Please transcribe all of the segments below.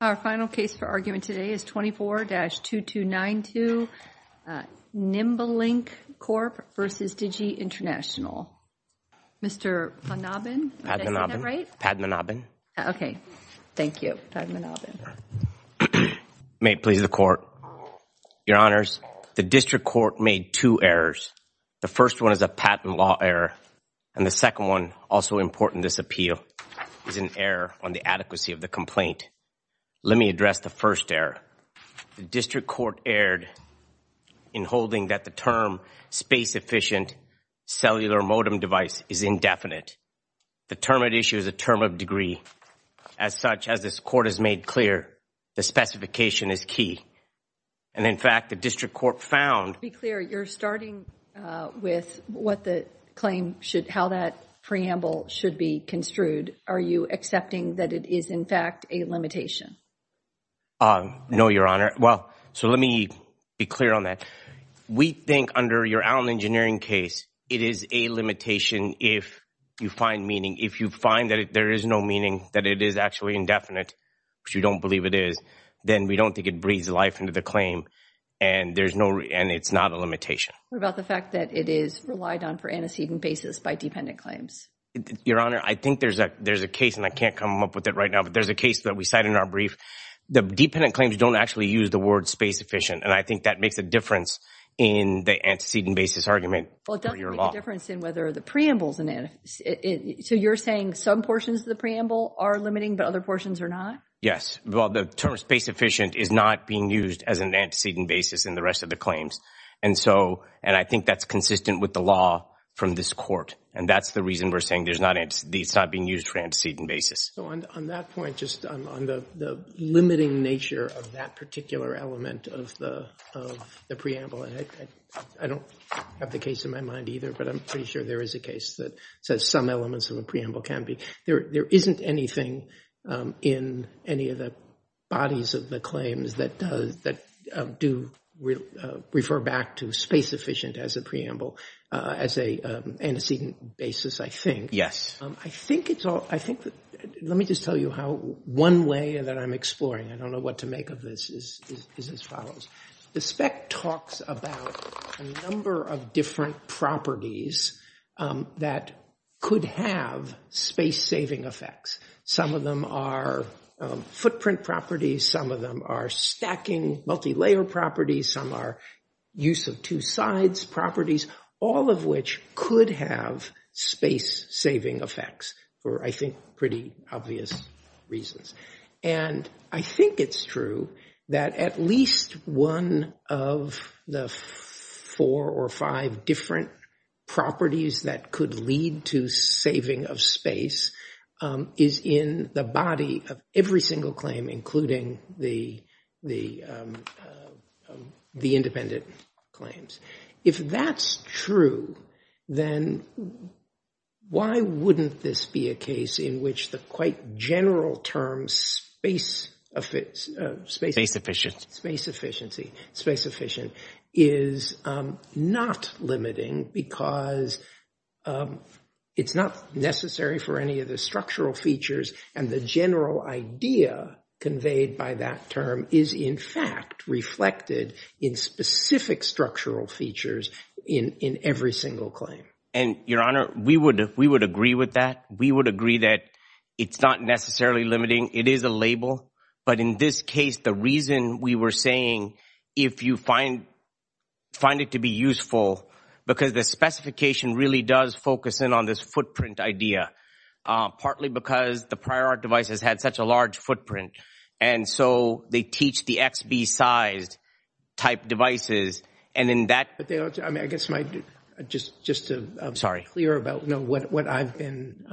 Our final case for argument today is 24-2292 NimbeLink Corp. v. Digi International. Mr. Panabin, did I say that right? Padmanabin. Okay, thank you. May it please the Court. Your Honors, the District Court made two errors. The first one is a patent law error, and the second one, also important in this appeal, is an error on the adequacy of the complaint. Let me address the first error. The District Court erred in holding that the term space-efficient cellular modem device is indefinite. The term at issue is a term of degree. As such, as this Court has made clear, the specification is key. And in fact, the District Court found— To be clear, you're starting with what the claim should—how that preamble should be construed. Are you accepting that it is, in fact, a limitation? Um, no, Your Honor. Well, so let me be clear on that. We think under your Allen Engineering case, it is a limitation if you find meaning. If you find that there is no meaning, that it is actually indefinite, which we don't believe it is, then we don't think it breathes life into the claim. And there's no—and it's not a limitation. What about the fact that it is relied on for antecedent basis by dependent claims? Your Honor, I think there's a case, and I can't come up with it right now, there's a case that we cite in our brief. The dependent claims don't actually use the word space-efficient, and I think that makes a difference in the antecedent basis argument. Well, it does make a difference in whether the preamble is an antecedent. So you're saying some portions of the preamble are limiting, but other portions are not? Yes. Well, the term space-efficient is not being used as an antecedent basis in the rest of the claims. And so—and I think that's consistent with the law from this Court. And that's the reason we're saying there's not—it's not being used for antecedent basis. So on that point, just on the limiting nature of that particular element of the preamble, I don't have the case in my mind either, but I'm pretty sure there is a case that says some elements of a preamble can be. There isn't anything in any of the bodies of the claims that do refer back to space-efficient as a preamble as an antecedent basis, I think. Yes. I think it's all—I think—let me just tell you how—one way that I'm exploring—I don't know what to make of this—is as follows. The spec talks about a number of different properties that could have space-saving effects. Some of them are footprint properties. Some of them are stacking, multi-layer properties. Some are use of two sides properties, all of which could have space-saving effects for, I think, pretty obvious reasons. And I think it's true that at least one of the four or five different properties that could lead to saving of space is in the body of every single claim, including the independent claims. If that's true, then why wouldn't this be a case in which the quite general term space— Space-efficient. Space-efficiency. Space-efficient is not limiting because it's not necessary for any of the structural features. And the general idea conveyed by that term is, in fact, reflected in specific structural features in every single claim. And, Your Honor, we would agree with that. We would agree that it's not necessarily limiting. It is a label. But in this case, the reason we were saying, if you find it to be useful, because the specification really does focus in on this footprint idea, partly because the prior art device has had such a large footprint. And so they teach the XB-sized type devices. And in that— But they don't—I mean, I guess my— Just to be clear about what I've been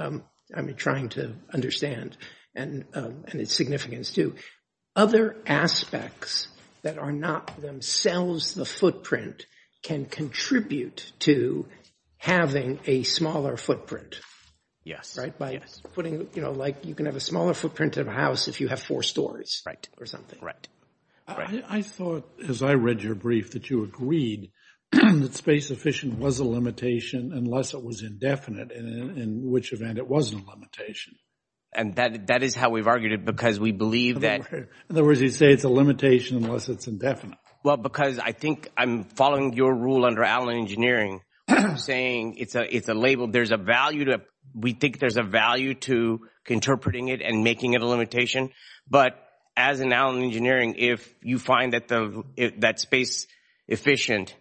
trying to understand. And its significance, too. Other aspects that are not themselves the footprint can contribute to having a smaller footprint. Yes. Right? By putting, you know, like, you can have a smaller footprint of a house if you have four stories or something. I thought, as I read your brief, that you agreed that space-efficient was a limitation unless it was indefinite, in which event it wasn't a limitation. And that is how we've argued it, because we believe that— In other words, you say it's a limitation unless it's indefinite. Well, because I think I'm following your rule under Allen Engineering, saying it's a label. We think there's a value to interpreting it and making it a limitation. But as in Allen Engineering, if you find that space-efficient,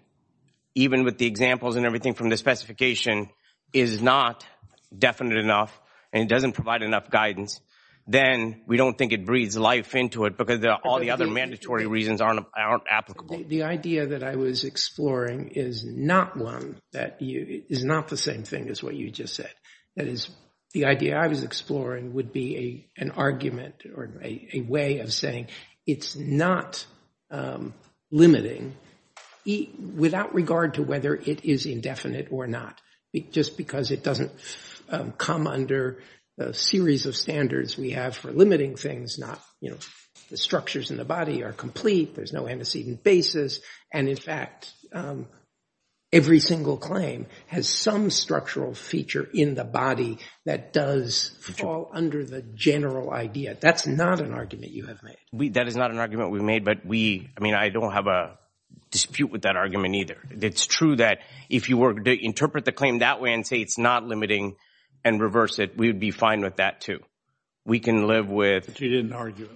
even with the examples and everything from the specification, is not definite enough and it doesn't provide enough guidance, then we don't think it breathes life into it, because all the other mandatory reasons aren't applicable. The idea that I was exploring is not the same thing as what you just said. That is, the idea I was exploring would be an argument or a way of saying it's not limiting without regard to whether it is indefinite or not, just because it doesn't come under a series of standards we have for limiting things. The structures in the body are complete. There's no antecedent basis. And in fact, every single claim has some structural feature in the body that does fall under the general idea. That's not an argument you have made. That is not an argument we've made, but we— I mean, I don't have a dispute with that argument either. It's true that if you were to interpret the claim that way and say it's not limiting and reverse it, we would be fine with that too. We can live with— But you didn't argue it.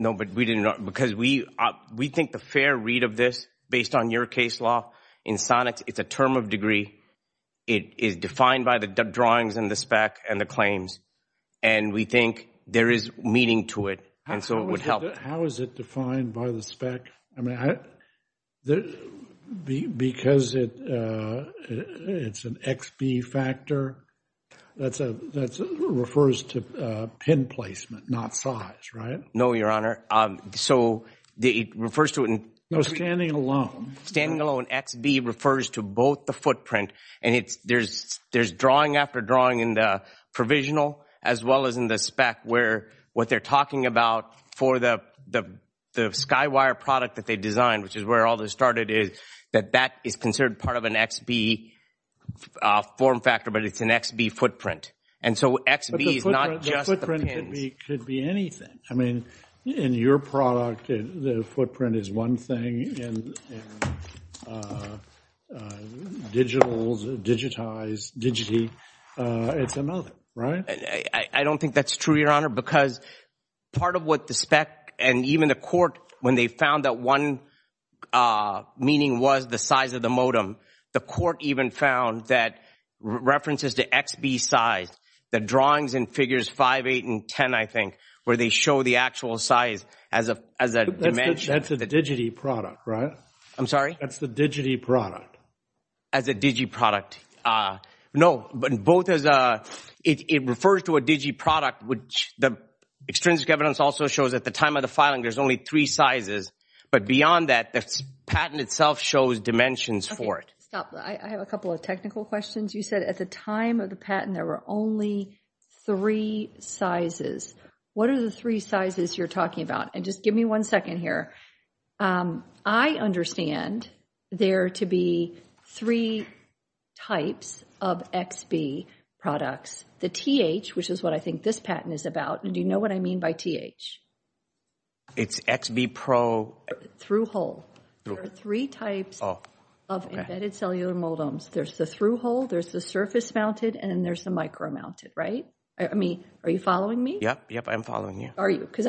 No, but we didn't— because we think the fair read of this, based on your case law, in Sonics, it's a term of degree. It is defined by the drawings and the spec and the claims. And we think there is meaning to it, and so it would help. How is it defined by the spec? I mean, because it's an XB factor, that refers to pin placement, not size, right? No, Your Honor. So it refers to— No, standing alone. Standing alone. XB refers to both the footprint— and there's drawing after drawing in the provisional as well as in the spec, where what they're talking about for the Skywire product that they designed, which is where all this started, is that that is considered part of an XB form factor, but it's an XB footprint. And so XB is not just the pins. But the footprint could be anything. I mean, in your product, the footprint is one thing, and digital, digitized, digity, it's another, right? I don't think that's true, Your Honor, because part of what the spec and even the court, when they found that one meaning was the size of the modem, the court even found that references to XB size, the drawings and figures 5, 8, and 10, I think, where they show the actual size as a dimension— That's a digity product, right? I'm sorry? That's the digity product. As a digi product. No, but it refers to a digi product, which the extrinsic evidence also shows at the time of the filing, there's only three sizes. But beyond that, the patent itself shows dimensions for it. Stop. I have a couple of technical questions. You said at the time of the patent, there were only three sizes. What are the three sizes you're talking about? And just give me one second here. Um, I understand there to be three types of XB products. The TH, which is what I think this patent is about, and do you know what I mean by TH? It's XB Pro— Through-hole. There are three types of embedded cellular modems. There's the through-hole, there's the surface-mounted, and then there's the micro-mounted, right? I mean, are you following me? Yep, yep, I'm following you. Are you? Because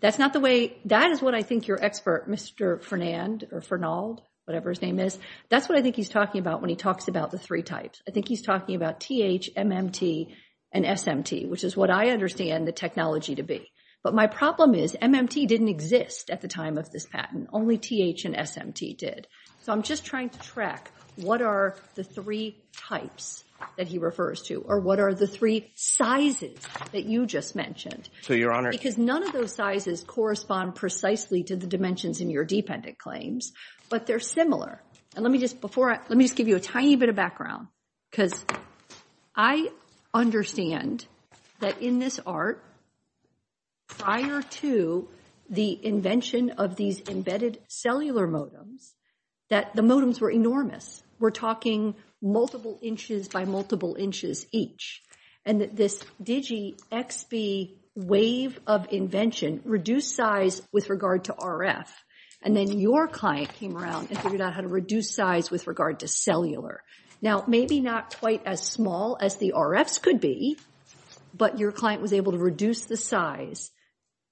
that's not the way— That is what I think your expert, Mr. Fernand, or Fernald, whatever his name is, that's what I think he's talking about when he talks about the three types. I think he's talking about TH, MMT, and SMT, which is what I understand the technology to be. But my problem is MMT didn't exist at the time of this patent. Only TH and SMT did. So I'm just trying to track what are the three types that he refers to, or what are the three sizes that you just mentioned. So, Your Honor— None of those sizes correspond precisely to the dimensions in your dependent claims, but they're similar. Let me just give you a tiny bit of background, because I understand that in this art, prior to the invention of these embedded cellular modems, that the modems were enormous. We're talking multiple inches by multiple inches each. And this Digi XB wave of invention reduced size with regard to RF. And then your client came around and figured out how to reduce size with regard to cellular. Now, maybe not quite as small as the RFs could be, but your client was able to reduce the size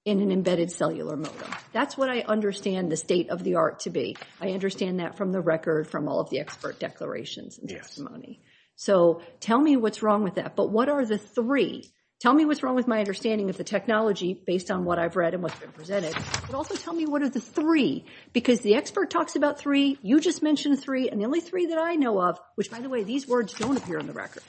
in an embedded cellular modem. That's what I understand the state of the art to be. I understand that from the record from all of the expert declarations and testimony. So tell me what's wrong with that. But what are the three? Tell me what's wrong with my understanding of the technology based on what I've read and what's been presented. But also tell me what are the three? Because the expert talks about three. You just mentioned three. And the only three that I know of— which, by the way, these words don't appear on the record.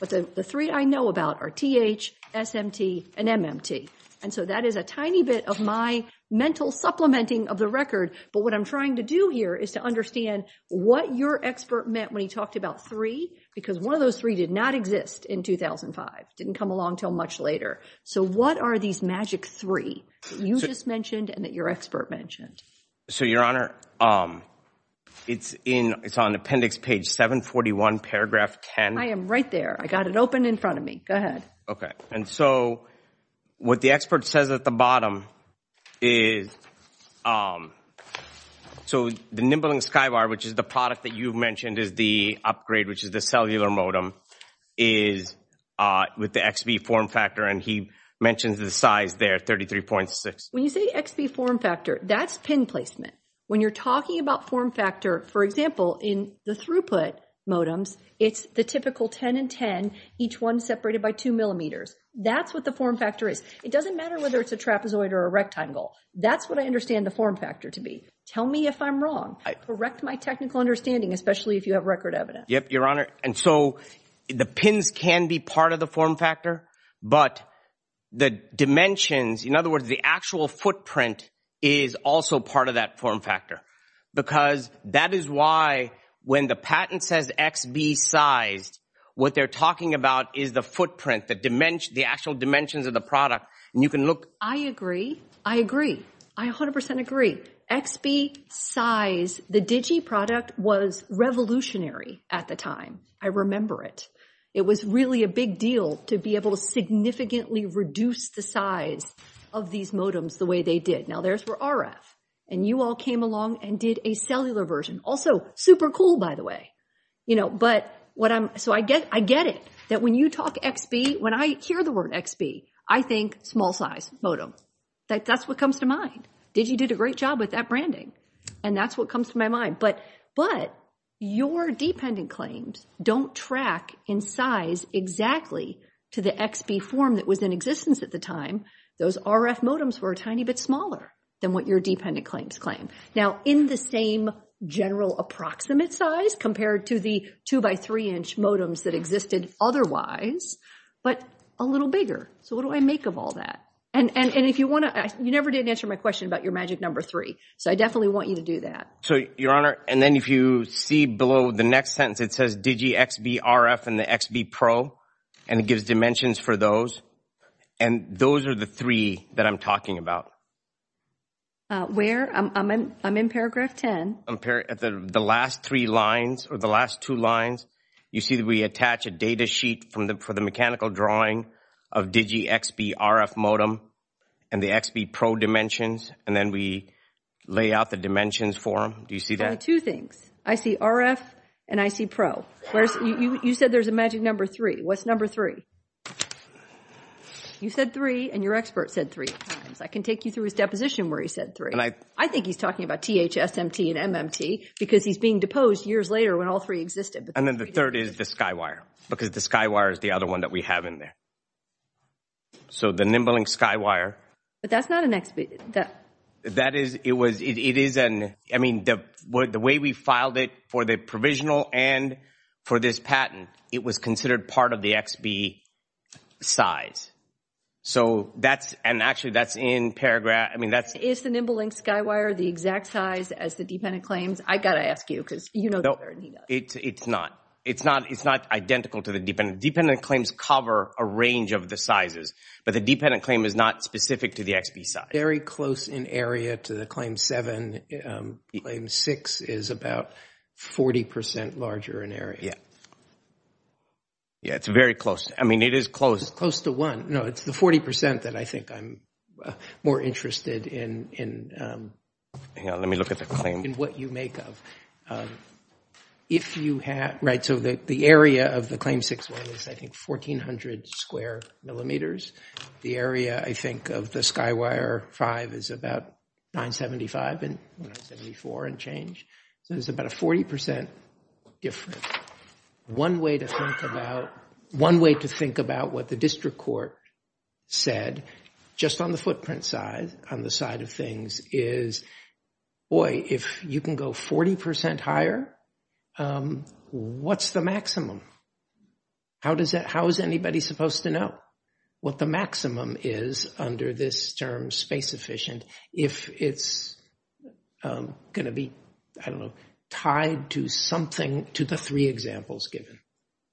But the three I know about are TH, SMT, and MMT. And so that is a tiny bit of my mental supplementing of the record. But what I'm trying to do here is to understand what your expert meant when he talked about three, because one of those three did not exist in 2005, didn't come along until much later. So what are these magic three that you just mentioned and that your expert mentioned? So, Your Honor, it's on appendix page 741, paragraph 10. I am right there. I got it open in front of me. Go ahead. Okay. And so what the expert says at the bottom is— so the Nimbling Skybar, which is the product that you've mentioned, is the upgrade, which is the cellular modem, with the XB form factor. And he mentions the size there, 33.6. When you say XB form factor, that's pin placement. When you're talking about form factor, for example, in the throughput modems, it's the typical 10 and 10, each one separated by 2 millimeters. That's what the form factor is. It doesn't matter whether it's a trapezoid or a rectangle. That's what I understand the form factor to be. Tell me if I'm wrong. Correct my technical understanding, especially if you have record evidence. Yep, Your Honor. And so the pins can be part of the form factor, but the dimensions— in other words, the actual footprint is also part of that form factor because that is why when the patent says XB sized, what they're talking about is the footprint, the actual dimensions of the product. And you can look— I agree. I agree. I 100% agree. XB size. The Digi product was revolutionary at the time. I remember it. It was really a big deal to be able to significantly reduce the size of these modems the way they did. Now, theirs were RF, and you all came along and did a cellular version. Also, super cool, by the way. You know, but what I'm— so I get it that when you talk XB, when I hear the word XB, I think small size modem. That's what comes to mind. Digi did a great job with that branding, and that's what comes to my mind. But your dependent claims don't track in size exactly to the XB form that was in existence at the time. Those RF modems were a tiny bit smaller than what your dependent claims claim. Now, in the same general approximate size compared to the two-by-three-inch modems that existed otherwise, but a little bigger. So what do I make of all that? And if you want to— you never did answer my question about your magic number three, so I definitely want you to do that. So, Your Honor, and then if you see below the next sentence, it says Digi XB RF and the XB Pro, and it gives dimensions for those. And those are the three that I'm talking about. Where? I'm in paragraph 10. The last three lines, or the last two lines, you see that we attach a data sheet for the mechanical drawing of Digi XB RF modem and the XB Pro dimensions, and then we lay out the dimensions for them. Do you see that? Only two things. I see RF and I see Pro. You said there's a magic number three. What's number three? You said three, and your expert said three. I can take you through his deposition where he said three. I think he's talking about THSMT and MMT because he's being deposed years later when all three existed. And then the third is the Skywire, because the Skywire is the other one that we have in there. So the NimbleLink Skywire— That's not an XB. The way we filed it for the provisional and for this patent, it was considered part of the XB size. So that's—and actually, that's in paragraph— I mean, that's— Is the NimbleLink Skywire the exact size as the dependent claims? I've got to ask you because you know better than he does. It's not. It's not identical to the dependent. Dependent claims cover a range of the sizes, but the dependent claim is not specific to the XB size. Very close in area to the Claim 7. Claim 6 is about 40 percent larger in area. Yeah. Yeah, it's very close. I mean, it is close. It's close to one. No, it's the 40 percent that I think I'm more interested in. Hang on, let me look at the claim. In what you make of. If you have—right, so the area of the Claim 6 one is, I think, 1,400 square millimeters. The area, I think, of the Skywire 5 is about 975 and 974 and change. So there's about a 40 percent difference. One way to think about what the district court said, just on the footprint side, on the side of things, is, boy, if you can go 40 percent higher, what's the maximum? How does that—how is anybody supposed to know what the maximum is under this term, space efficient, if it's going to be, I don't know, tied to something to the three examples given?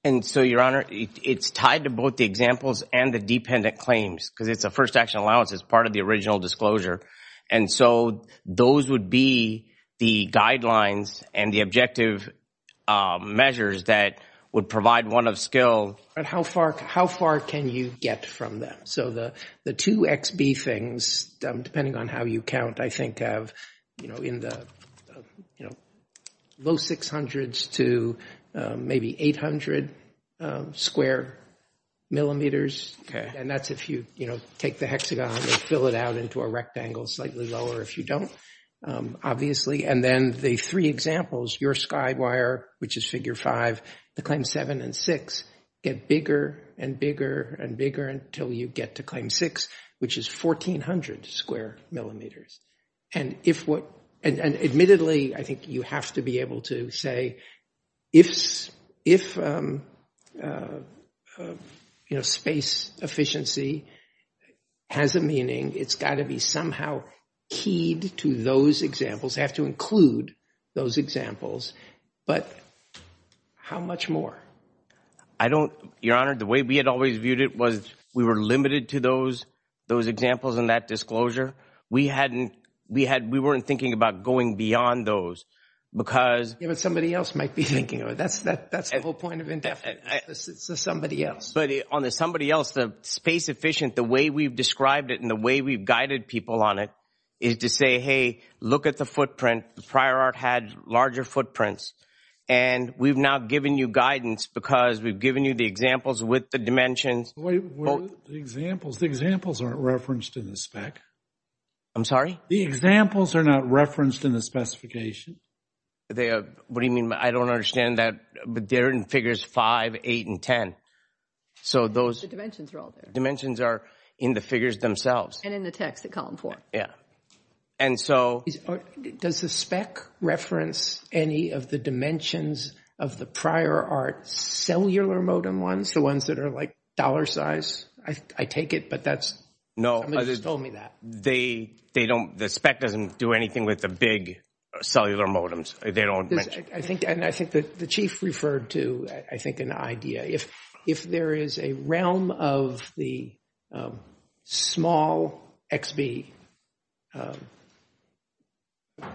And so, Your Honor, it's tied to both the examples and the dependent claims, because it's a first action allowance. It's part of the original disclosure. And so those would be the guidelines and the objective measures that would provide one of skill. But how far can you get from them? So the two XB things, depending on how you count, I think have, you know, in the, you know, low 600s to maybe 800 square millimeters. And that's if you, you know, take the hexagon and fill it out into a rectangle, slightly lower if you don't, obviously. And then the three examples, your Skywire, which is Figure 5, the Claim 7 and 6 get bigger and bigger and bigger until you get to Claim 6, which is 1,400 square millimeters. And if what—and admittedly, I think you have to be able to say, if, you know, space efficiency has a meaning, it's got to be somehow keyed to those examples. You have to include those examples. But how much more? I don't—Your Honor, the way we had always viewed it was we were limited to those examples and that disclosure. We hadn't—we weren't thinking about going beyond those because— Yeah, but somebody else might be thinking of it. That's the whole point of indefinite. It's somebody else. But on the somebody else, the space efficient, the way we've described it and the way we've guided people on it is to say, hey, look at the footprint. The prior art had larger footprints. And we've now given you guidance because we've given you the examples with the dimensions. But wait, the examples aren't referenced in the spec. I'm sorry? The examples are not referenced in the specification. They are—what do you mean? I don't understand that. But they're in Figures 5, 8, and 10. So those— The dimensions are all there. Dimensions are in the figures themselves. And in the text at Column 4. Yeah. And so— Does the spec reference any of the dimensions of the prior art cellular modem ones? The ones that are like dollar size? I take it, but that's— No. Somebody just told me that. They don't—the spec doesn't do anything with the big cellular modems. They don't— I think—and I think that the chief referred to, I think, an idea. If there is a realm of the small XB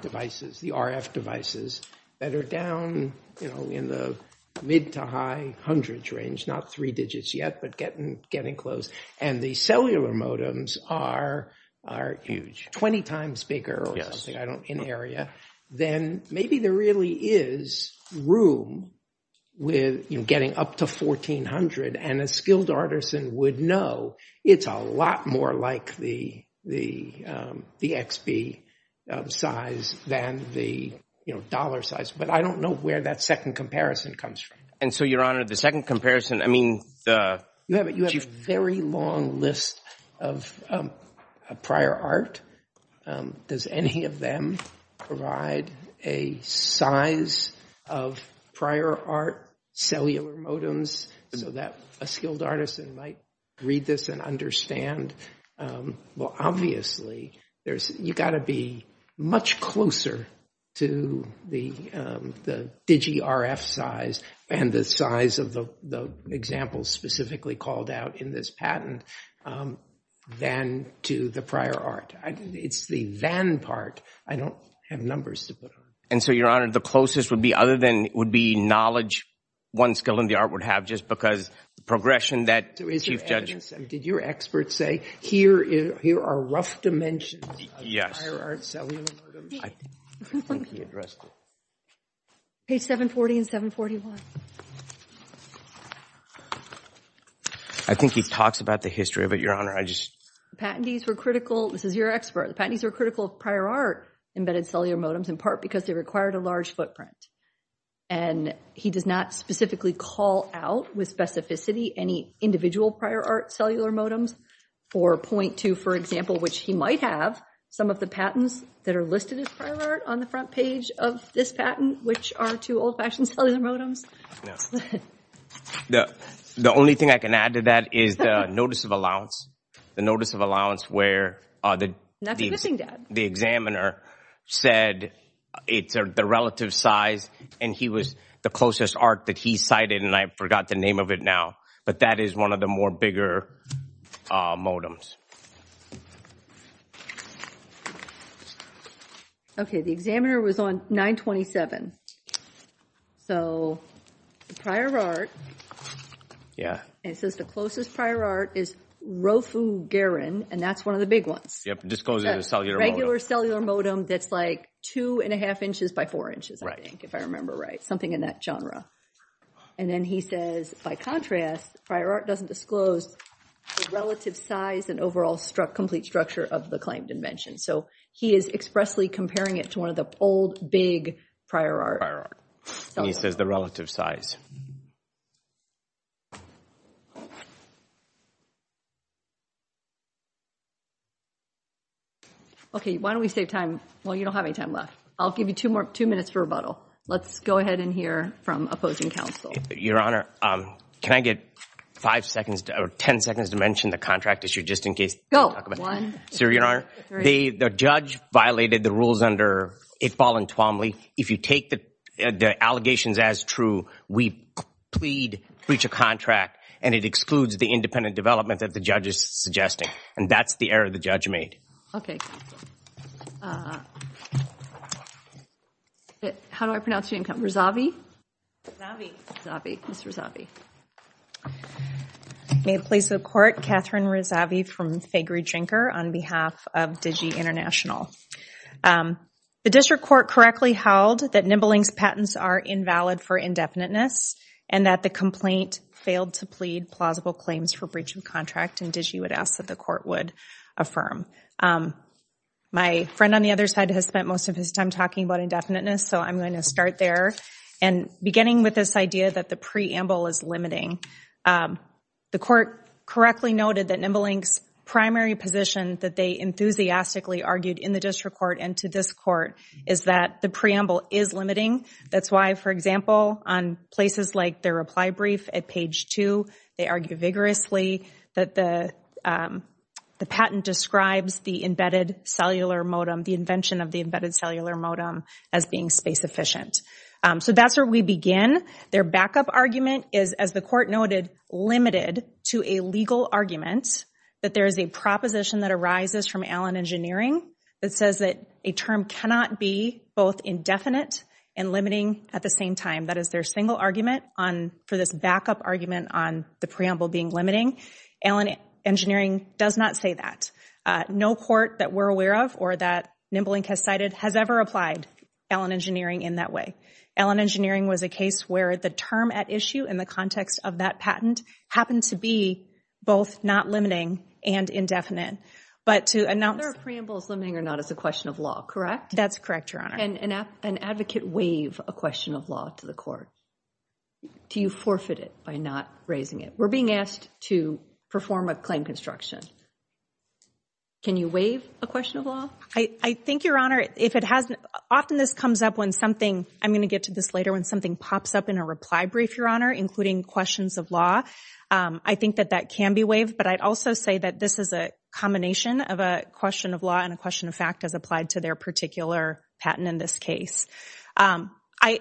devices, the RF devices, that are down in the mid to high hundreds range, not three digits yet, but getting close, and the cellular modems are huge, 20 times bigger or something, I don't—in area, then maybe there really is room with getting up to 1,400. And a skilled artisan would know it's a lot more like the XB size than the dollar size. But I don't know where that second comparison comes from. And so, Your Honor, the second comparison, I mean, the— You have a very long list of prior art. Does any of them provide a size of prior art cellular modems so that a skilled artisan might read this and understand? Well, obviously, there's— You've got to be much closer to the Digi-RF size and the size of the examples specifically called out in this patent than to the prior art. It's the van part. I don't have numbers to put on it. And so, Your Honor, the closest would be other than— would be knowledge one skilled in the art would have just because the progression that Chief Judge— Did your expert say, here are rough dimensions of prior art cellular modems? I think he addressed it. Page 740 and 741. I think he talks about the history of it, Your Honor. I just— This is your expert. The patentees were critical of prior art embedded cellular modems in part because they required a large footprint. And he does not specifically call out with specificity any individual prior art cellular modems or point to, for example, which he might have, some of the patents that are listed as prior art on the front page of this patent, which are two old-fashioned cellular modems. The only thing I can add to that is the notice of allowance. The notice of allowance where the examiner said it's the relative size and he was— the closest art that he cited, and I forgot the name of it now, but that is one of the more bigger modems. Okay, the examiner was on 927. So, the prior art— Yeah. And it says the closest prior art is Rofugarin, and that's one of the big ones. Yep, disclosing the cellular modem. Regular cellular modem that's like two and a half inches by four inches, I think, if I remember right. Something in that genre. And then he says, by contrast, prior art doesn't disclose the relative size and overall complete structure of the claimed invention. So, he is expressly comparing it to one of the old, big prior art. And he says the relative size. Okay, why don't we save time? Well, you don't have any time left. I'll give you two more, two minutes for rebuttal. Let's go ahead and hear from opposing counsel. Your Honor, can I get five seconds or 10 seconds to mention the contract issue just in case— Go, one, two, three. Sir, Your Honor, the judge violated the rules under Itfall and Twombly. If you take the allegations as true, we plead breach of contract, and the judge says, it excludes the independent development that the judge is suggesting. And that's the error the judge made. How do I pronounce your name? Rezavi? Rezavi. Rezavi. Ms. Rezavi. May it please the Court, Catherine Rezavi from Fagery Drinker on behalf of Digi International. The District Court correctly held that Nibling's patents are invalid for indefiniteness and that the complaint failed to plead plausible claims for breach of contract, and Digi would ask that the Court would affirm. My friend on the other side has spent most of his time talking about indefiniteness, so I'm going to start there. And beginning with this idea that the preamble is limiting, the Court correctly noted that Nibling's primary position that they enthusiastically argued in the District Court and to this Court is that the preamble is limiting. That's why, for example, on places like their reply brief at page two, they argue vigorously that the patent describes the embedded cellular modem, the invention of the embedded cellular modem as being space efficient. So that's where we begin. Their backup argument is, as the Court noted, limited to a legal argument that there is a proposition that arises from Allen Engineering that says that a term cannot be both indefinite and limiting at the same time. That is their single argument for this backup argument on the preamble being limiting. Allen Engineering does not say that. No court that we're aware of or that Nibling has cited has ever applied Allen Engineering in that way. Allen Engineering was a case where the term at issue in the context of that patent happened to be both not limiting and indefinite. But to announce... The preamble is limiting or not is a question of law, correct? That's correct, Your Honor. Can an advocate waive a question of law to the court? Do you forfeit it by not raising it? We're being asked to perform a claim construction. Can you waive a question of law? I think, Your Honor, if it hasn't... Often this comes up when something... I'm going to get to this later when something pops up in a reply brief, Your Honor, including questions of law. I think that that can be waived, but I'd also say that this is a combination of a question of law and a question of fact as applied to their particular patent in this case. I...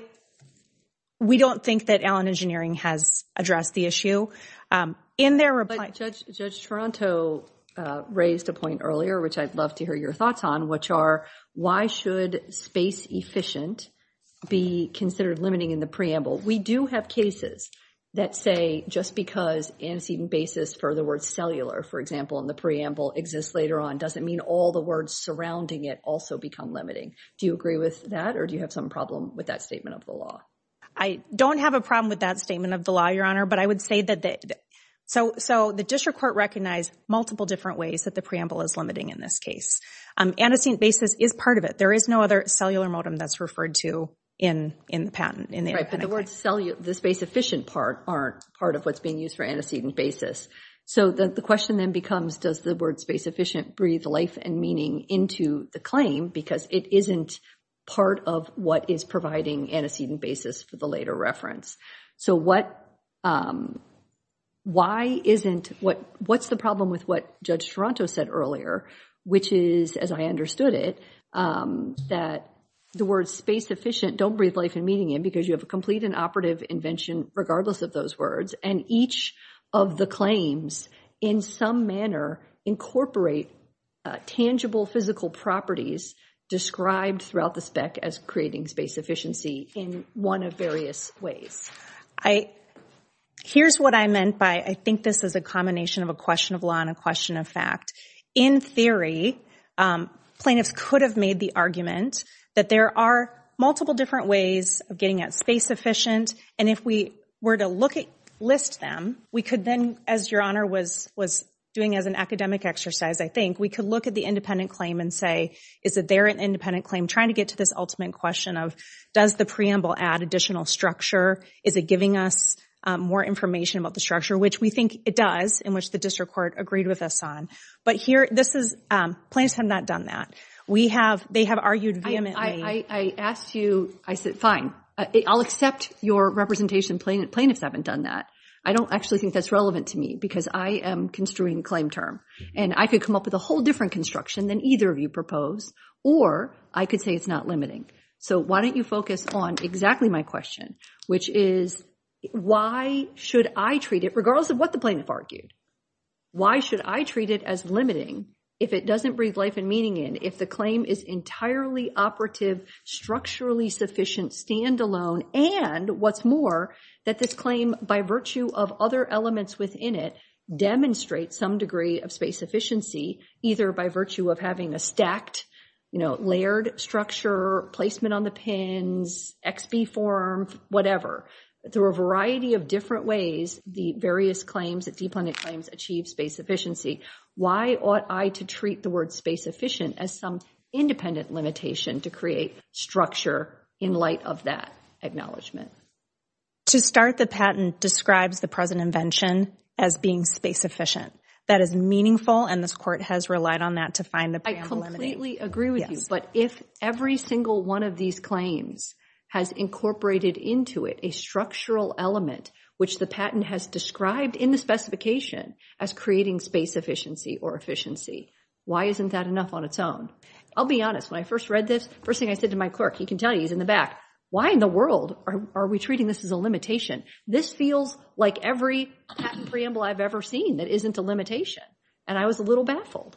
We don't think that Allen Engineering has addressed the issue. In their reply... Judge Toronto raised a point earlier, which I'd love to hear your thoughts on, which are why should space efficient be considered limiting in the preamble? We do have cases that say just because antecedent basis for the word cellular, for example, in the preamble exists later on doesn't mean all the words surrounding it also become limiting. Do you agree with that or do you have some problem with that statement of the law? I don't have a problem with that statement of the law, Your Honor, but I would say that... So the district court recognized multiple different ways that the preamble is limiting in this case. Antecedent basis is part of it. There is no other cellular modem that's referred to in the patent. Right, but the words cellular... The space efficient part aren't part of what's being used for antecedent basis. So the question then becomes does the word space efficient breathe life and meaning into the claim because it isn't part of what is providing antecedent basis for the later reference. So what's the problem with what Judge Toronto said earlier, which is, as I understood it, that the word space efficient don't breathe life and meaning in because you have a complete and operative invention regardless of those words and each of the claims in some manner incorporate tangible physical properties described throughout the spec as creating space efficiency in one of various ways. Here's what I meant by I think this is a combination of a question of law and a question of fact. In theory, plaintiffs could have made the argument that there are multiple different ways of getting at space efficient and if we were to list them, we could then, as Your Honor was doing as an academic exercise, I think, we could look at the independent claim and say, is there an independent claim trying to get to this ultimate question of does the preamble add additional structure? Is it giving us more information about the structure, which we think it does, in which the district court agreed with us on. But here, plaintiffs have not done that. They have argued vehemently. I asked you, I said, fine, I'll accept your representation. Plaintiffs haven't done that. I don't actually think that's relevant to me because I am construing a claim term and I could come up with a whole different construction than either of you propose or I could say it's not limiting. So why don't you focus on exactly my question, which is why should I treat it, regardless of what the plaintiff argued, why should I treat it as limiting if it doesn't breathe life and meaning in, if the claim is entirely operative, structurally sufficient, standalone, and what's more, that this claim, by virtue of other elements within it, demonstrates some degree of space efficiency, either by virtue of having a stacked, you know, layered structure, placement on the pins, XB form, whatever. Through a variety of different ways, the various claims, the de-planted claims achieve space efficiency. Why ought I to treat the word space efficient as some independent limitation to create structure in light of that acknowledgement? To start, the patent describes the present invention as being space efficient. That is meaningful, and this court has relied on that to find a plan limiting. I completely agree with you, but if every single one of these claims has incorporated into it a structural element, which the patent has described in the specification as creating space efficiency or efficiency, why isn't that enough on its own? I'll be honest, when I first read this, first thing I said to my clerk, he can tell you, he's in the back, why in the world are we treating this as a limitation? This feels like every patent preamble I've ever seen that isn't a limitation, and I was a little baffled.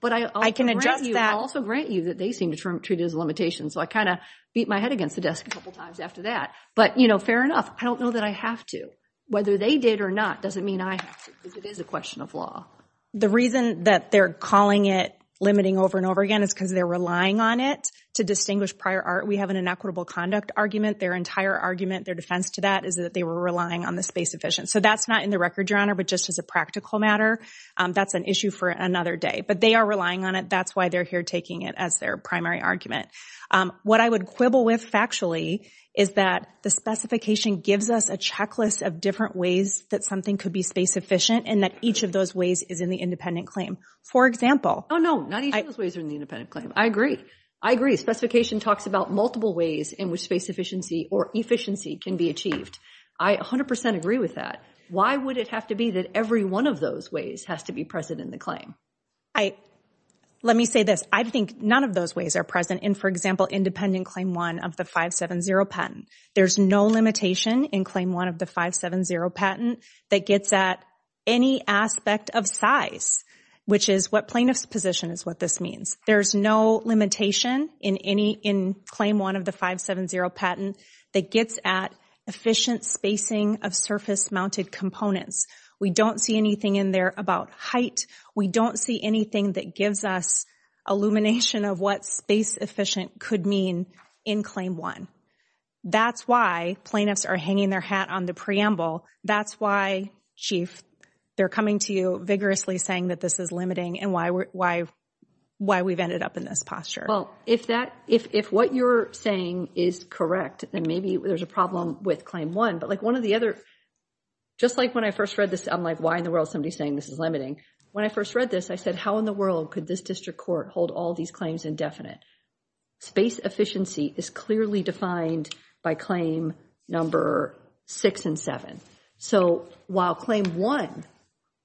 But I can also grant you that they seem to treat it as a limitation, so I kind of beat my head against the desk a couple times after that. But you know, fair enough. I don't know that I have to. Whether they did or not doesn't mean I have to, because it is a question of law. The reason that they're calling it limiting over and over again is because they're relying on it to distinguish prior art. We have an inequitable conduct argument. Their entire argument, their defense to that is that they were relying on the space efficient. So that's not in the record, but just as a practical matter, that's an issue for another day. But they are relying on it. That's why they're here taking it as their primary argument. What I would quibble with factually is that the specification gives us a checklist of different ways that something could be space efficient and that each of those ways is in the independent claim. For example. Oh, no, not each of those ways are in the independent claim. I agree. I agree. Specification talks about multiple ways in which space efficiency or efficiency can be achieved. I 100% agree with that. Why would it have to be that every one of those ways has to be present in the claim? I let me say this. I think none of those ways are present in, for example, independent claim one of the 570 patent. There's no limitation in claim one of the 570 patent that gets at any aspect of size, which is what plaintiff's position is what this means. There's no limitation in any in claim one of the 570 patent that gets at efficient spacing of surface mounted components. We don't see anything in there about height. We don't see anything that gives us illumination of what space efficient could mean in claim one. That's why plaintiffs are hanging their hat on the preamble. That's why, Chief, they're coming to you vigorously saying that this is limiting and why we've ended up in this posture. Well, if what you're saying is correct, then maybe there's a problem with claim one. But like one of the other, just like when I first read this, I'm like, why in the world somebody's saying this is limiting? When I first read this, I said, how in the world could this district court hold all these claims indefinite? Space efficiency is clearly defined by claim number six and seven. So while claim one,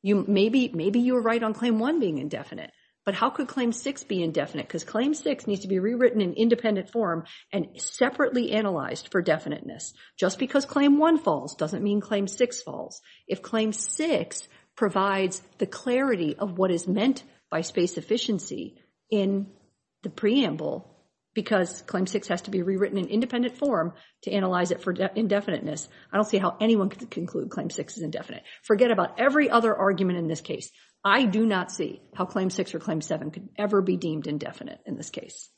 maybe you were right on claim one being indefinite, but how could claim six be indefinite? Because claim six needs to be rewritten in independent form and separately analyzed for definiteness. Just because claim one falls doesn't mean claim six falls. If claim six provides the clarity of what is meant by space efficiency in the preamble, because claim six has to be rewritten in independent form to analyze it for indefiniteness, I don't see how anyone could conclude claim six is indefinite. Forget about every other argument in this case. I do not see how claim six or claim seven could ever be deemed indefinite in this case.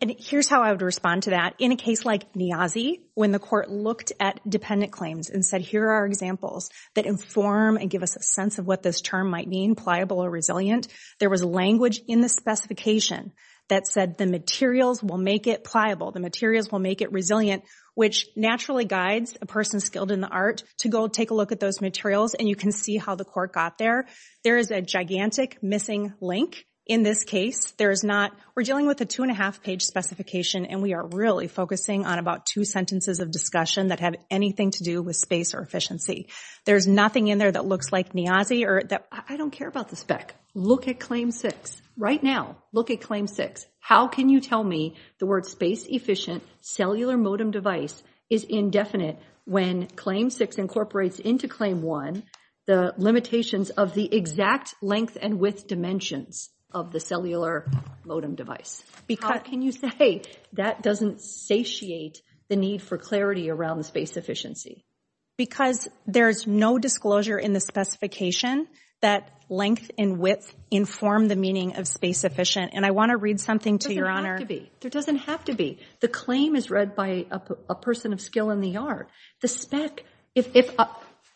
And here's how I would respond to that. In a case like Niazi, when the court looked at dependent claims and said, here are examples that inform and give us a sense of what this term might mean, pliable or resilient, there was language in the specification that said the materials will make it pliable. The materials will make it resilient, which naturally guides a person skilled in the art to go take a look at those materials. And you can see how the court got there. There is a gigantic missing link in this case. There is not, we're dealing with a two and a half page specification and we are really focusing on about two sentences of discussion that have anything to do with space or efficiency. There's nothing in there that looks like Niazi or that I don't care about the spec. Look at claim six right now. Look at claim six. How can you tell me the word space efficient cellular modem device is indefinite when claim six incorporates into claim one the limitations of the exact length and width dimensions of the cellular modem device? Because can you say that doesn't satiate the need for clarity around the space efficiency? Because there's no disclosure in the specification that length and width inform the meaning of space efficient. And I want to read something to your honor. There doesn't have to be. The claim is read by a person of skill in the art. The spec, if,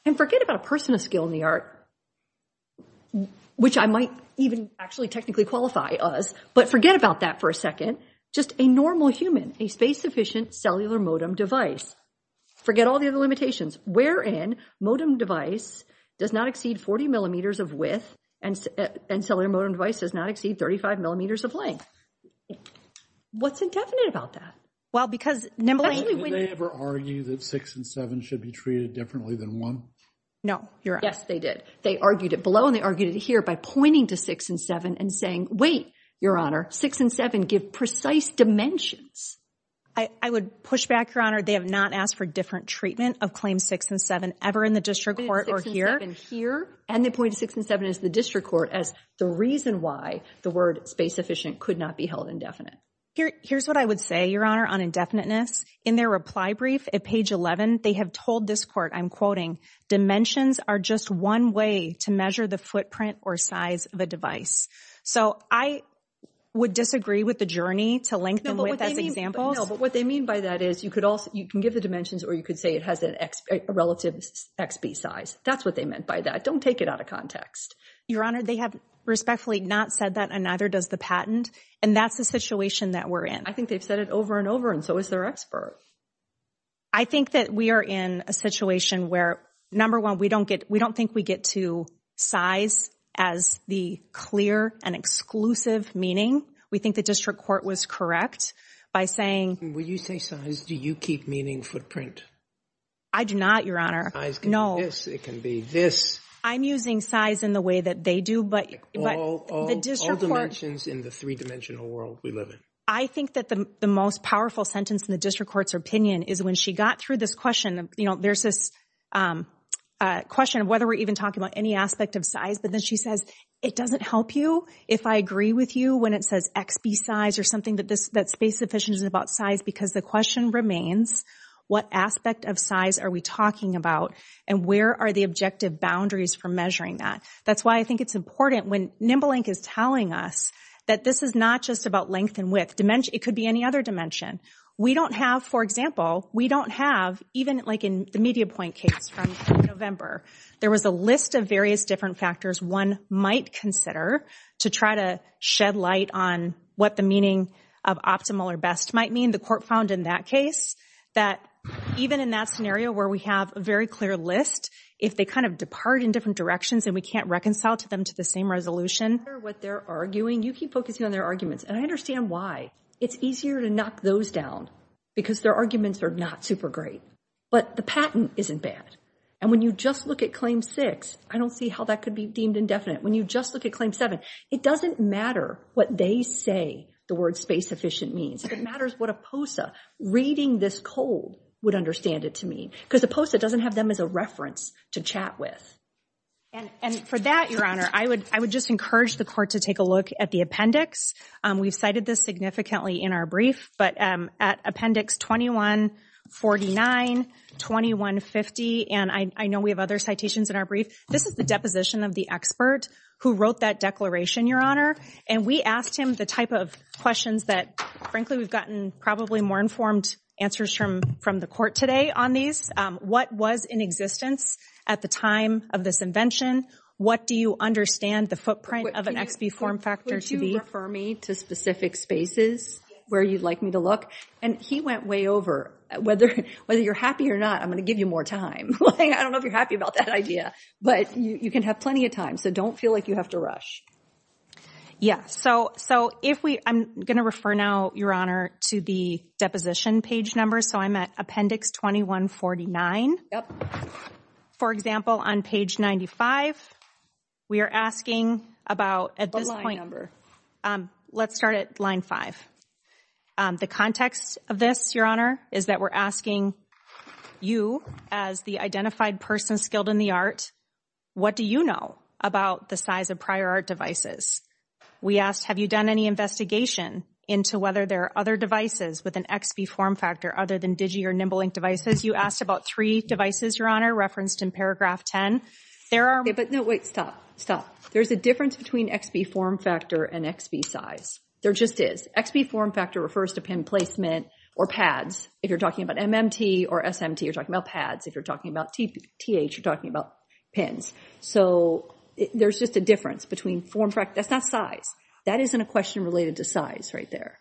and forget about a person of skill in the art, which I might even actually technically qualify as, but forget about that for a second. Just a normal human, a space efficient cellular modem device. Forget all the other limitations wherein modem device does not exceed 40 millimeters of width and cellular modem device does not exceed 35 millimeters of length. What's indefinite about that? Well, because, Nimbly, did they ever argue that six and seven should be treated differently than one? No, you're right. Yes, they did. They argued it below and they argued it here by pointing to six and seven and saying, wait, your honor, six and seven give precise dimensions. I would push back, your honor. They have not asked for different treatment of claims six and seven ever in the district court or here. And the point of six and seven is the district court as the reason why the word space efficient could not be held indefinite. Here's what I would say, your honor, on indefiniteness. In their reply brief, page 11, they have told this court, I'm quoting, dimensions are just one way to measure the footprint or size of a device. So I would disagree with the journey to lengthen with as examples. But what they mean by that is you could also, you can give the dimensions or you could say it has an relative XB size. That's what they meant by that. Don't take it out of context. Your honor, they have respectfully not said that and neither does the patent. And that's the situation that we're in. I think they've said it over and over and so is their expert. I think that we are in a situation where, number one, we don't get, we don't think we get to size as the clear and exclusive meaning. We think the district court was correct by saying, when you say size, do you keep meaning footprint? I do not, your honor. Size can be this, it can be this. I'm using size in the way that they do, but all dimensions in the three dimensional world we live in. I think that the most powerful sentence in the district court's opinion is when she got through this question, you know, there's this question of whether we're even talking about any aspect of size, but then she says, it doesn't help you if I agree with you when it says XB size or something that this, that space efficiency is about size because the question remains, what aspect of size are we talking about and where are the objective boundaries for measuring that? That's why I think it's important when NimbleLink is telling us that this is not just about length and width. It could be any other dimension. We don't have, for example, we don't have, even like in the media point case from November, there was a list of various different factors one might consider to try to shed light on what the meaning of optimal or best might mean. The court found in that case that even in that scenario where we have a very clear list, if they kind of depart in different directions and we can't reconcile to them to the same resolution. What they're arguing, you keep focusing on their arguments and I understand why. It's easier to knock those down because their arguments are not super great. But the patent isn't bad. And when you just look at claim six, I don't see how that could be deemed indefinite. When you just look at claim seven, it doesn't matter what they say the word space efficient means. It matters what a POSA reading this cold would understand it to mean. Because the POSA doesn't have them as a reference to chat with. And for that, Your Honor, I would just encourage the court to take a look at the appendix. We've cited this significantly in our brief, at appendix 2149, 2150. And I know we have other citations in our brief. This is the deposition of the expert who wrote that declaration, Your Honor. And we asked him the type of questions that, frankly, we've gotten probably more informed answers from the court today on these. What was in existence at the time of this invention? What do you understand the footprint of an XP form factor to be? Would you refer me to specific spaces where you'd like me to look? And he went way over. Whether you're happy or not, I'm going to give you more time. I don't know if you're happy about that idea, but you can have plenty of time. So don't feel like you have to rush. Yeah, so if we, I'm going to refer now, Your Honor, to the deposition page number. So I'm at appendix 2149. For example, on page 95, we are asking about, at this point, let's start at line five. The context of this, is that we're asking you, as the identified person skilled in the art, what do you know about the size of prior art devices? We asked, have you done any investigation into whether there are other devices with an XP form factor other than Digi or NimbleLink devices? You asked about three devices, referenced in paragraph 10. There are. But no, wait, stop, stop. There's a difference between XP form factor and XP size. There just is. XP form factor refers to pin placement or pads. If you're talking about MMT or SMT, you're talking about pads. If you're talking about TH, you're talking about pins. So there's just a difference between form factor. That's not size. That isn't a question related to size right there.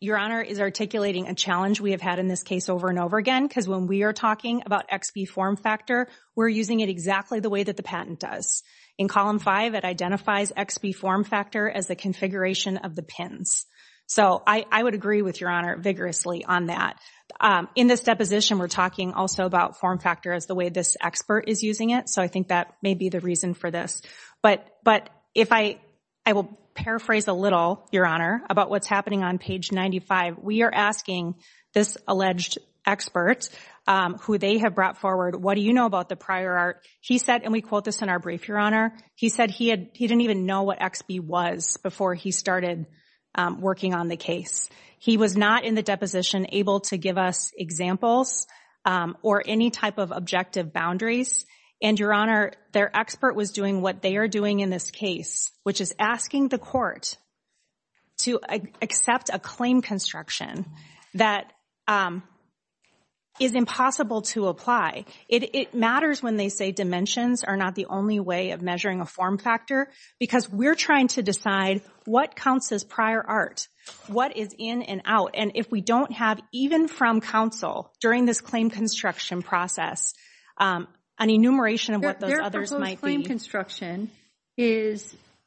Your Honor is articulating a challenge we have had in this case over and over again, because when we are talking about XP form factor, we're using it exactly the way that the patent does. In column five, it identifies XP form factor as the configuration of the pins. So I would agree with Your Honor vigorously on that. In this deposition, we're talking also about form factor as the way this expert is using it. So I think that may be the reason for this. But if I will paraphrase a little, Your Honor, about what's happening on page 95, we are asking this alleged expert who they have brought forward, what do you know about the prior art? He said, and we quote this in our brief, Your Honor, he said he didn't even know what XP was before he started working on the case. He was not in the deposition able to give us examples or any type of objective boundaries. And Your Honor, their expert was doing what they are doing in this case, which is asking the court to accept a claim construction that is impossible to apply. It matters when they say dimensions are not the only way of measuring a form factor because we're trying to decide what counts as prior art, what is in and out. And if we don't have, even from counsel, during this claim construction process, an enumeration of what those others might be. Their proposed claim construction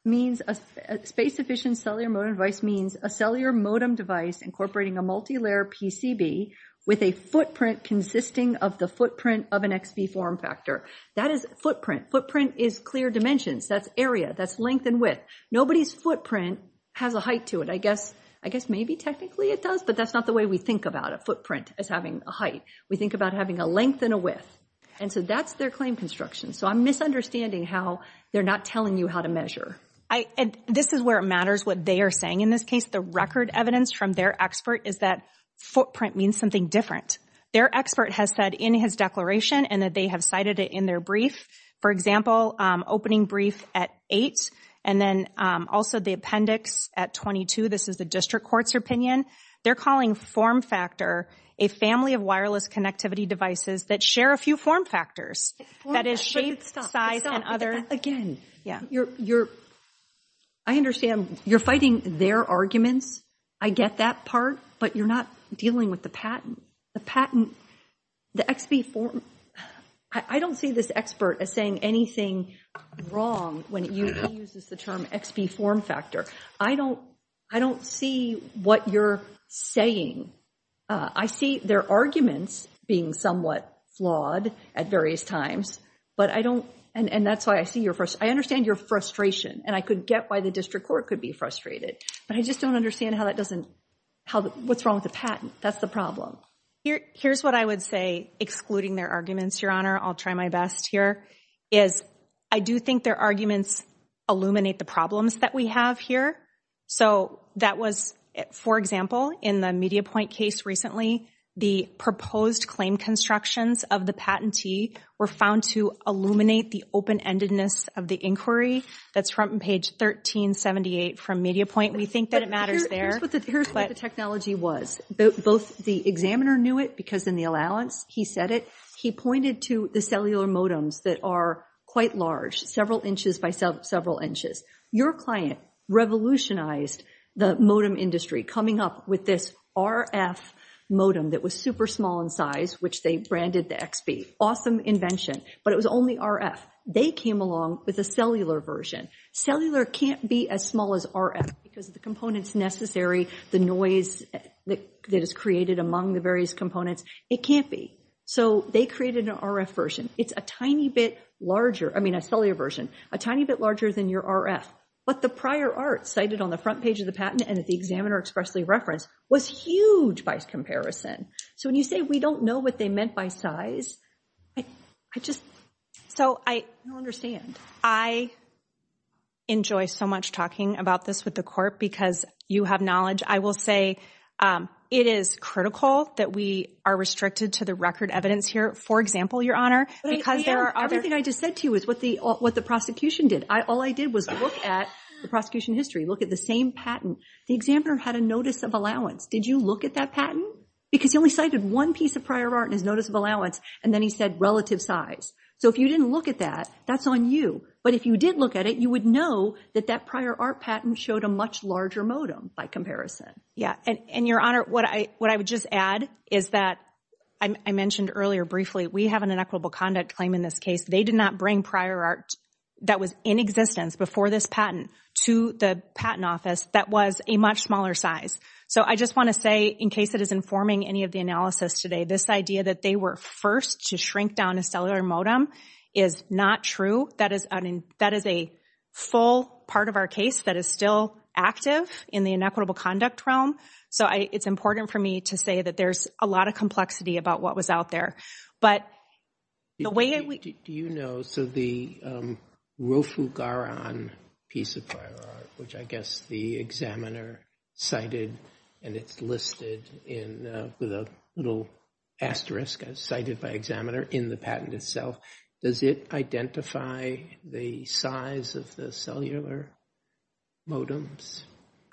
means a space-efficient cellular modem device means a cellular modem device incorporating a multilayer PCB with a footprint consisting of the footprint of an XP form factor. That is footprint. Footprint is clear dimensions. That's area. That's length and width. Nobody's footprint has a height to it. I guess maybe technically it does, but that's not the way we think about a footprint as having a height. We think about having a length and a width. And so that's their claim construction. So I'm misunderstanding how they're not telling you how to measure. This is where it matters what they are saying. In this case, the record evidence from their expert is that footprint means something different. Their expert has said in his declaration and that they have cited it in their brief, for example, opening brief at eight and then also the appendix at 22. This is the district court's opinion. They're calling form factor a family of wireless connectivity devices that share a few form factors. That is shape, size and other. Again, I understand you're fighting their arguments. I get that part, but you're not dealing with the patent. The patent, the XP form. I don't see this expert as saying anything wrong when he uses the term XP form factor. I don't see what you're saying. I see their arguments being somewhat flawed at various times, but I don't. And that's why I see your first. I understand your frustration and I could get why the district court could be frustrated, but I just don't understand how that doesn't. What's wrong with the patent? That's the problem here. Here's what I would say, excluding their arguments, your honor. I'll try my best here is I do think their arguments illuminate the problems that we have here. So that was, for example, in the MediaPoint case recently, the proposed claim constructions of the patentee were found to illuminate the open-endedness of the inquiry. That's front page 1378 from MediaPoint. We think that it matters there. Here's what the technology was. Both the examiner knew it because in the allowance, he said it. He pointed to the cellular modems that are quite large, several inches by several inches. Your client revolutionized the modem industry coming up with this RF modem that was super small in size, which they branded the XP. Awesome invention, but it was only RF. They came along with a cellular version. Cellular can't be as small as RF because of the components necessary, the noise that is created among the various components. It can't be. So they created an RF version. It's a tiny bit larger. I mean, a cellular version, a tiny bit larger than your RF, but the prior art cited on the front page of the patent and that the examiner expressly referenced was huge by comparison. So when you say we don't know what they meant by size, I just, so I understand. I enjoy so much talking about this with the court because you have knowledge. I will say it is critical that we are restricted to the record evidence here. For example, Your Honor, everything I just said to you is what the prosecution did. All I did was look at the prosecution history, look at the same patent. The examiner had a notice of allowance. Did you look at that patent? Because he only cited one piece of prior art and his notice of allowance, and then he said relative size. So if you didn't look at that, that's on you. But if you did look at it, you would know that that prior art patent showed a much larger modem by comparison. Yeah, and Your Honor, what I would just add is that I mentioned earlier briefly, we have an inequitable conduct claim in this case. They did not bring prior art that was in existence before this patent to the patent office that was a much smaller size. So I just want to say, in case it is informing any of the analysis today, this idea that they were first to shrink down a cellular modem is not true. That is a full part of our case that is still active in the inequitable conduct realm. So it's important for me to say that there's a lot of complexity about what was out there. But the way I would— Do you know, so the Rofugaran piece of prior art, which I guess the examiner cited and it's listed with a little asterisk, as cited by examiner, in the patent itself, does it identify the size of the cellular modems?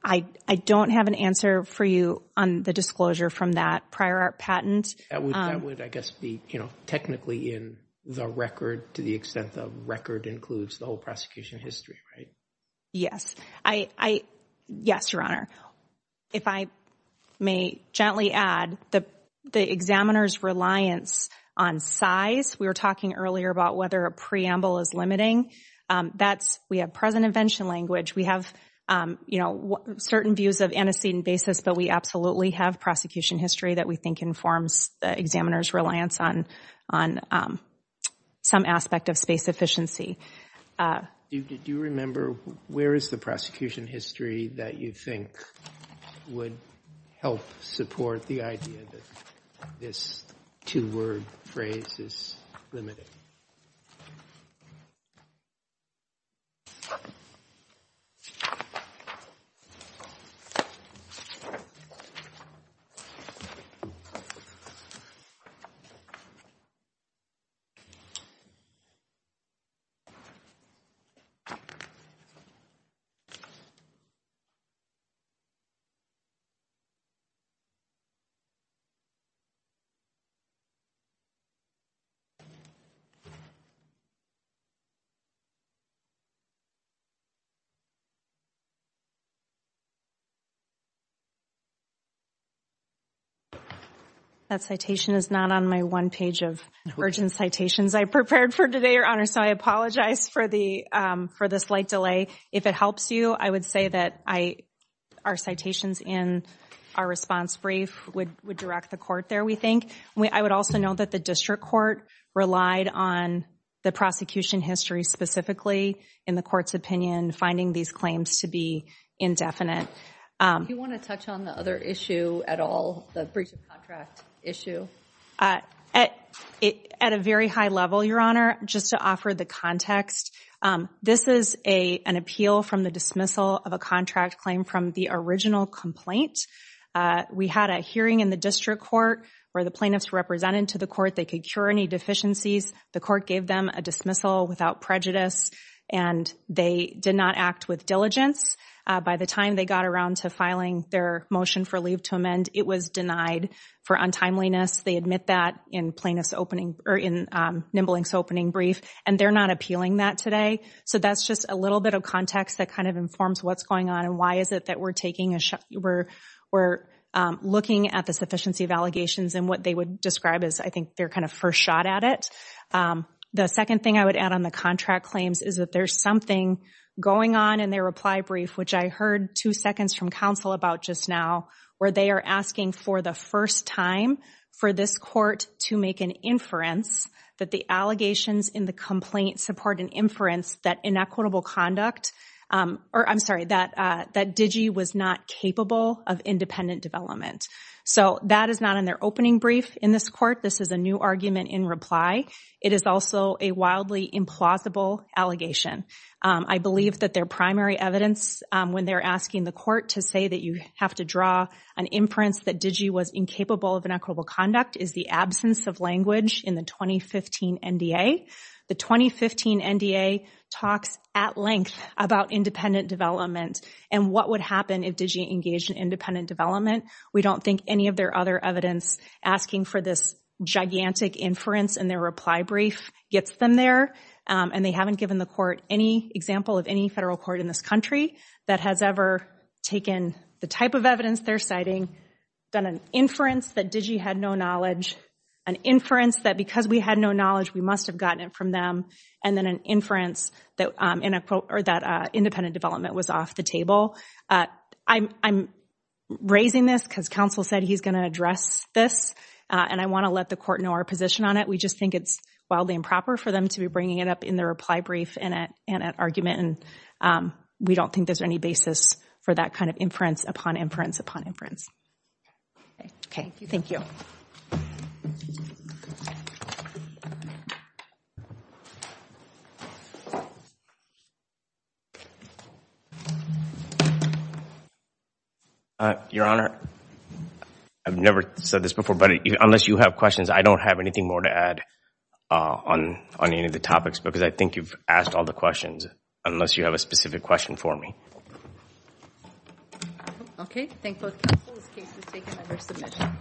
I don't have an answer for you on the disclosure from that prior art patent. That would, I guess, be technically in the record to the extent the record includes the whole prosecution history, right? Yes. Yes, Your Honor. If I may gently add, the examiner's reliance on size, we were talking earlier about whether a preamble is limiting. We have present invention language. We have certain views of antecedent basis, but we absolutely have prosecution history that we think informs the examiner's reliance on some aspect of space efficiency. Do you remember, where is the prosecution history that you think would help support the idea that this two-word phrase is limiting? That citation is not on my one page of urgent citations I prepared for today, Your Honor, so I apologize for the slight delay. If it helps you, I would say that our citations in our response brief would direct the court there, we think. I would also know that the district court relied on the prosecution history specifically in the court's opinion, finding these claims to be indefinite. Do you want to touch on the other issue at all? The breach of contract issue. At a very high level, Your Honor, just to offer the context, this is an appeal from the dismissal of a contract claim from the original complaint. We had a hearing in the district court where the plaintiffs represented to the court they could cure any deficiencies. The court gave them a dismissal without prejudice and they did not act with diligence. By the time they got around to filing their motion for leave to amend, it was denied for untimeliness. They admit that in Nimble Inc.'s opening brief and they're not appealing that today. So that's just a little bit of context that kind of informs what's going on and why is it that we're looking at the sufficiency of allegations and what they would describe as I think they're kind of first shot at it. The second thing I would add on the contract claims is that there's something going on in their reply brief, which I heard two seconds from counsel about just now, where they are asking for the first time for this court to make an inference that the allegations in the complaint support an inference that inequitable conduct, or I'm sorry, that Digi was not capable of independent development. So that is not in their opening brief in this court. This is a new argument in reply. It is also a wildly implausible allegation. I believe that their primary evidence when they're asking the court to say that you have to draw an inference that Digi was incapable of inequitable conduct is the absence of language in the 2015 NDA. The 2015 NDA talks at length about independent development and what would happen if Digi engaged in independent development. We don't think any of their other evidence asking for this gigantic inference in their reply brief gets them there, and they haven't given the court any example of any federal court in this country that has ever taken the type of evidence they're citing, done an inference that Digi had no knowledge, an inference that because we had no knowledge we must have gotten it from them, and then an inference that independent development was off the table. I'm raising this because counsel said he's going to address this, and I want to let the court know our position on it. We just think it's wildly improper for them to be bringing it up in their reply brief and at argument, and we don't think there's any basis for that kind of inference upon inference upon inference. Okay, thank you. Your Honor, I've never said this before, but unless you have questions, I don't have anything more to add on any of the topics because I think you've asked all the questions. Unless you have a specific question for me. Okay, thank both counsel. This case is taken under submission.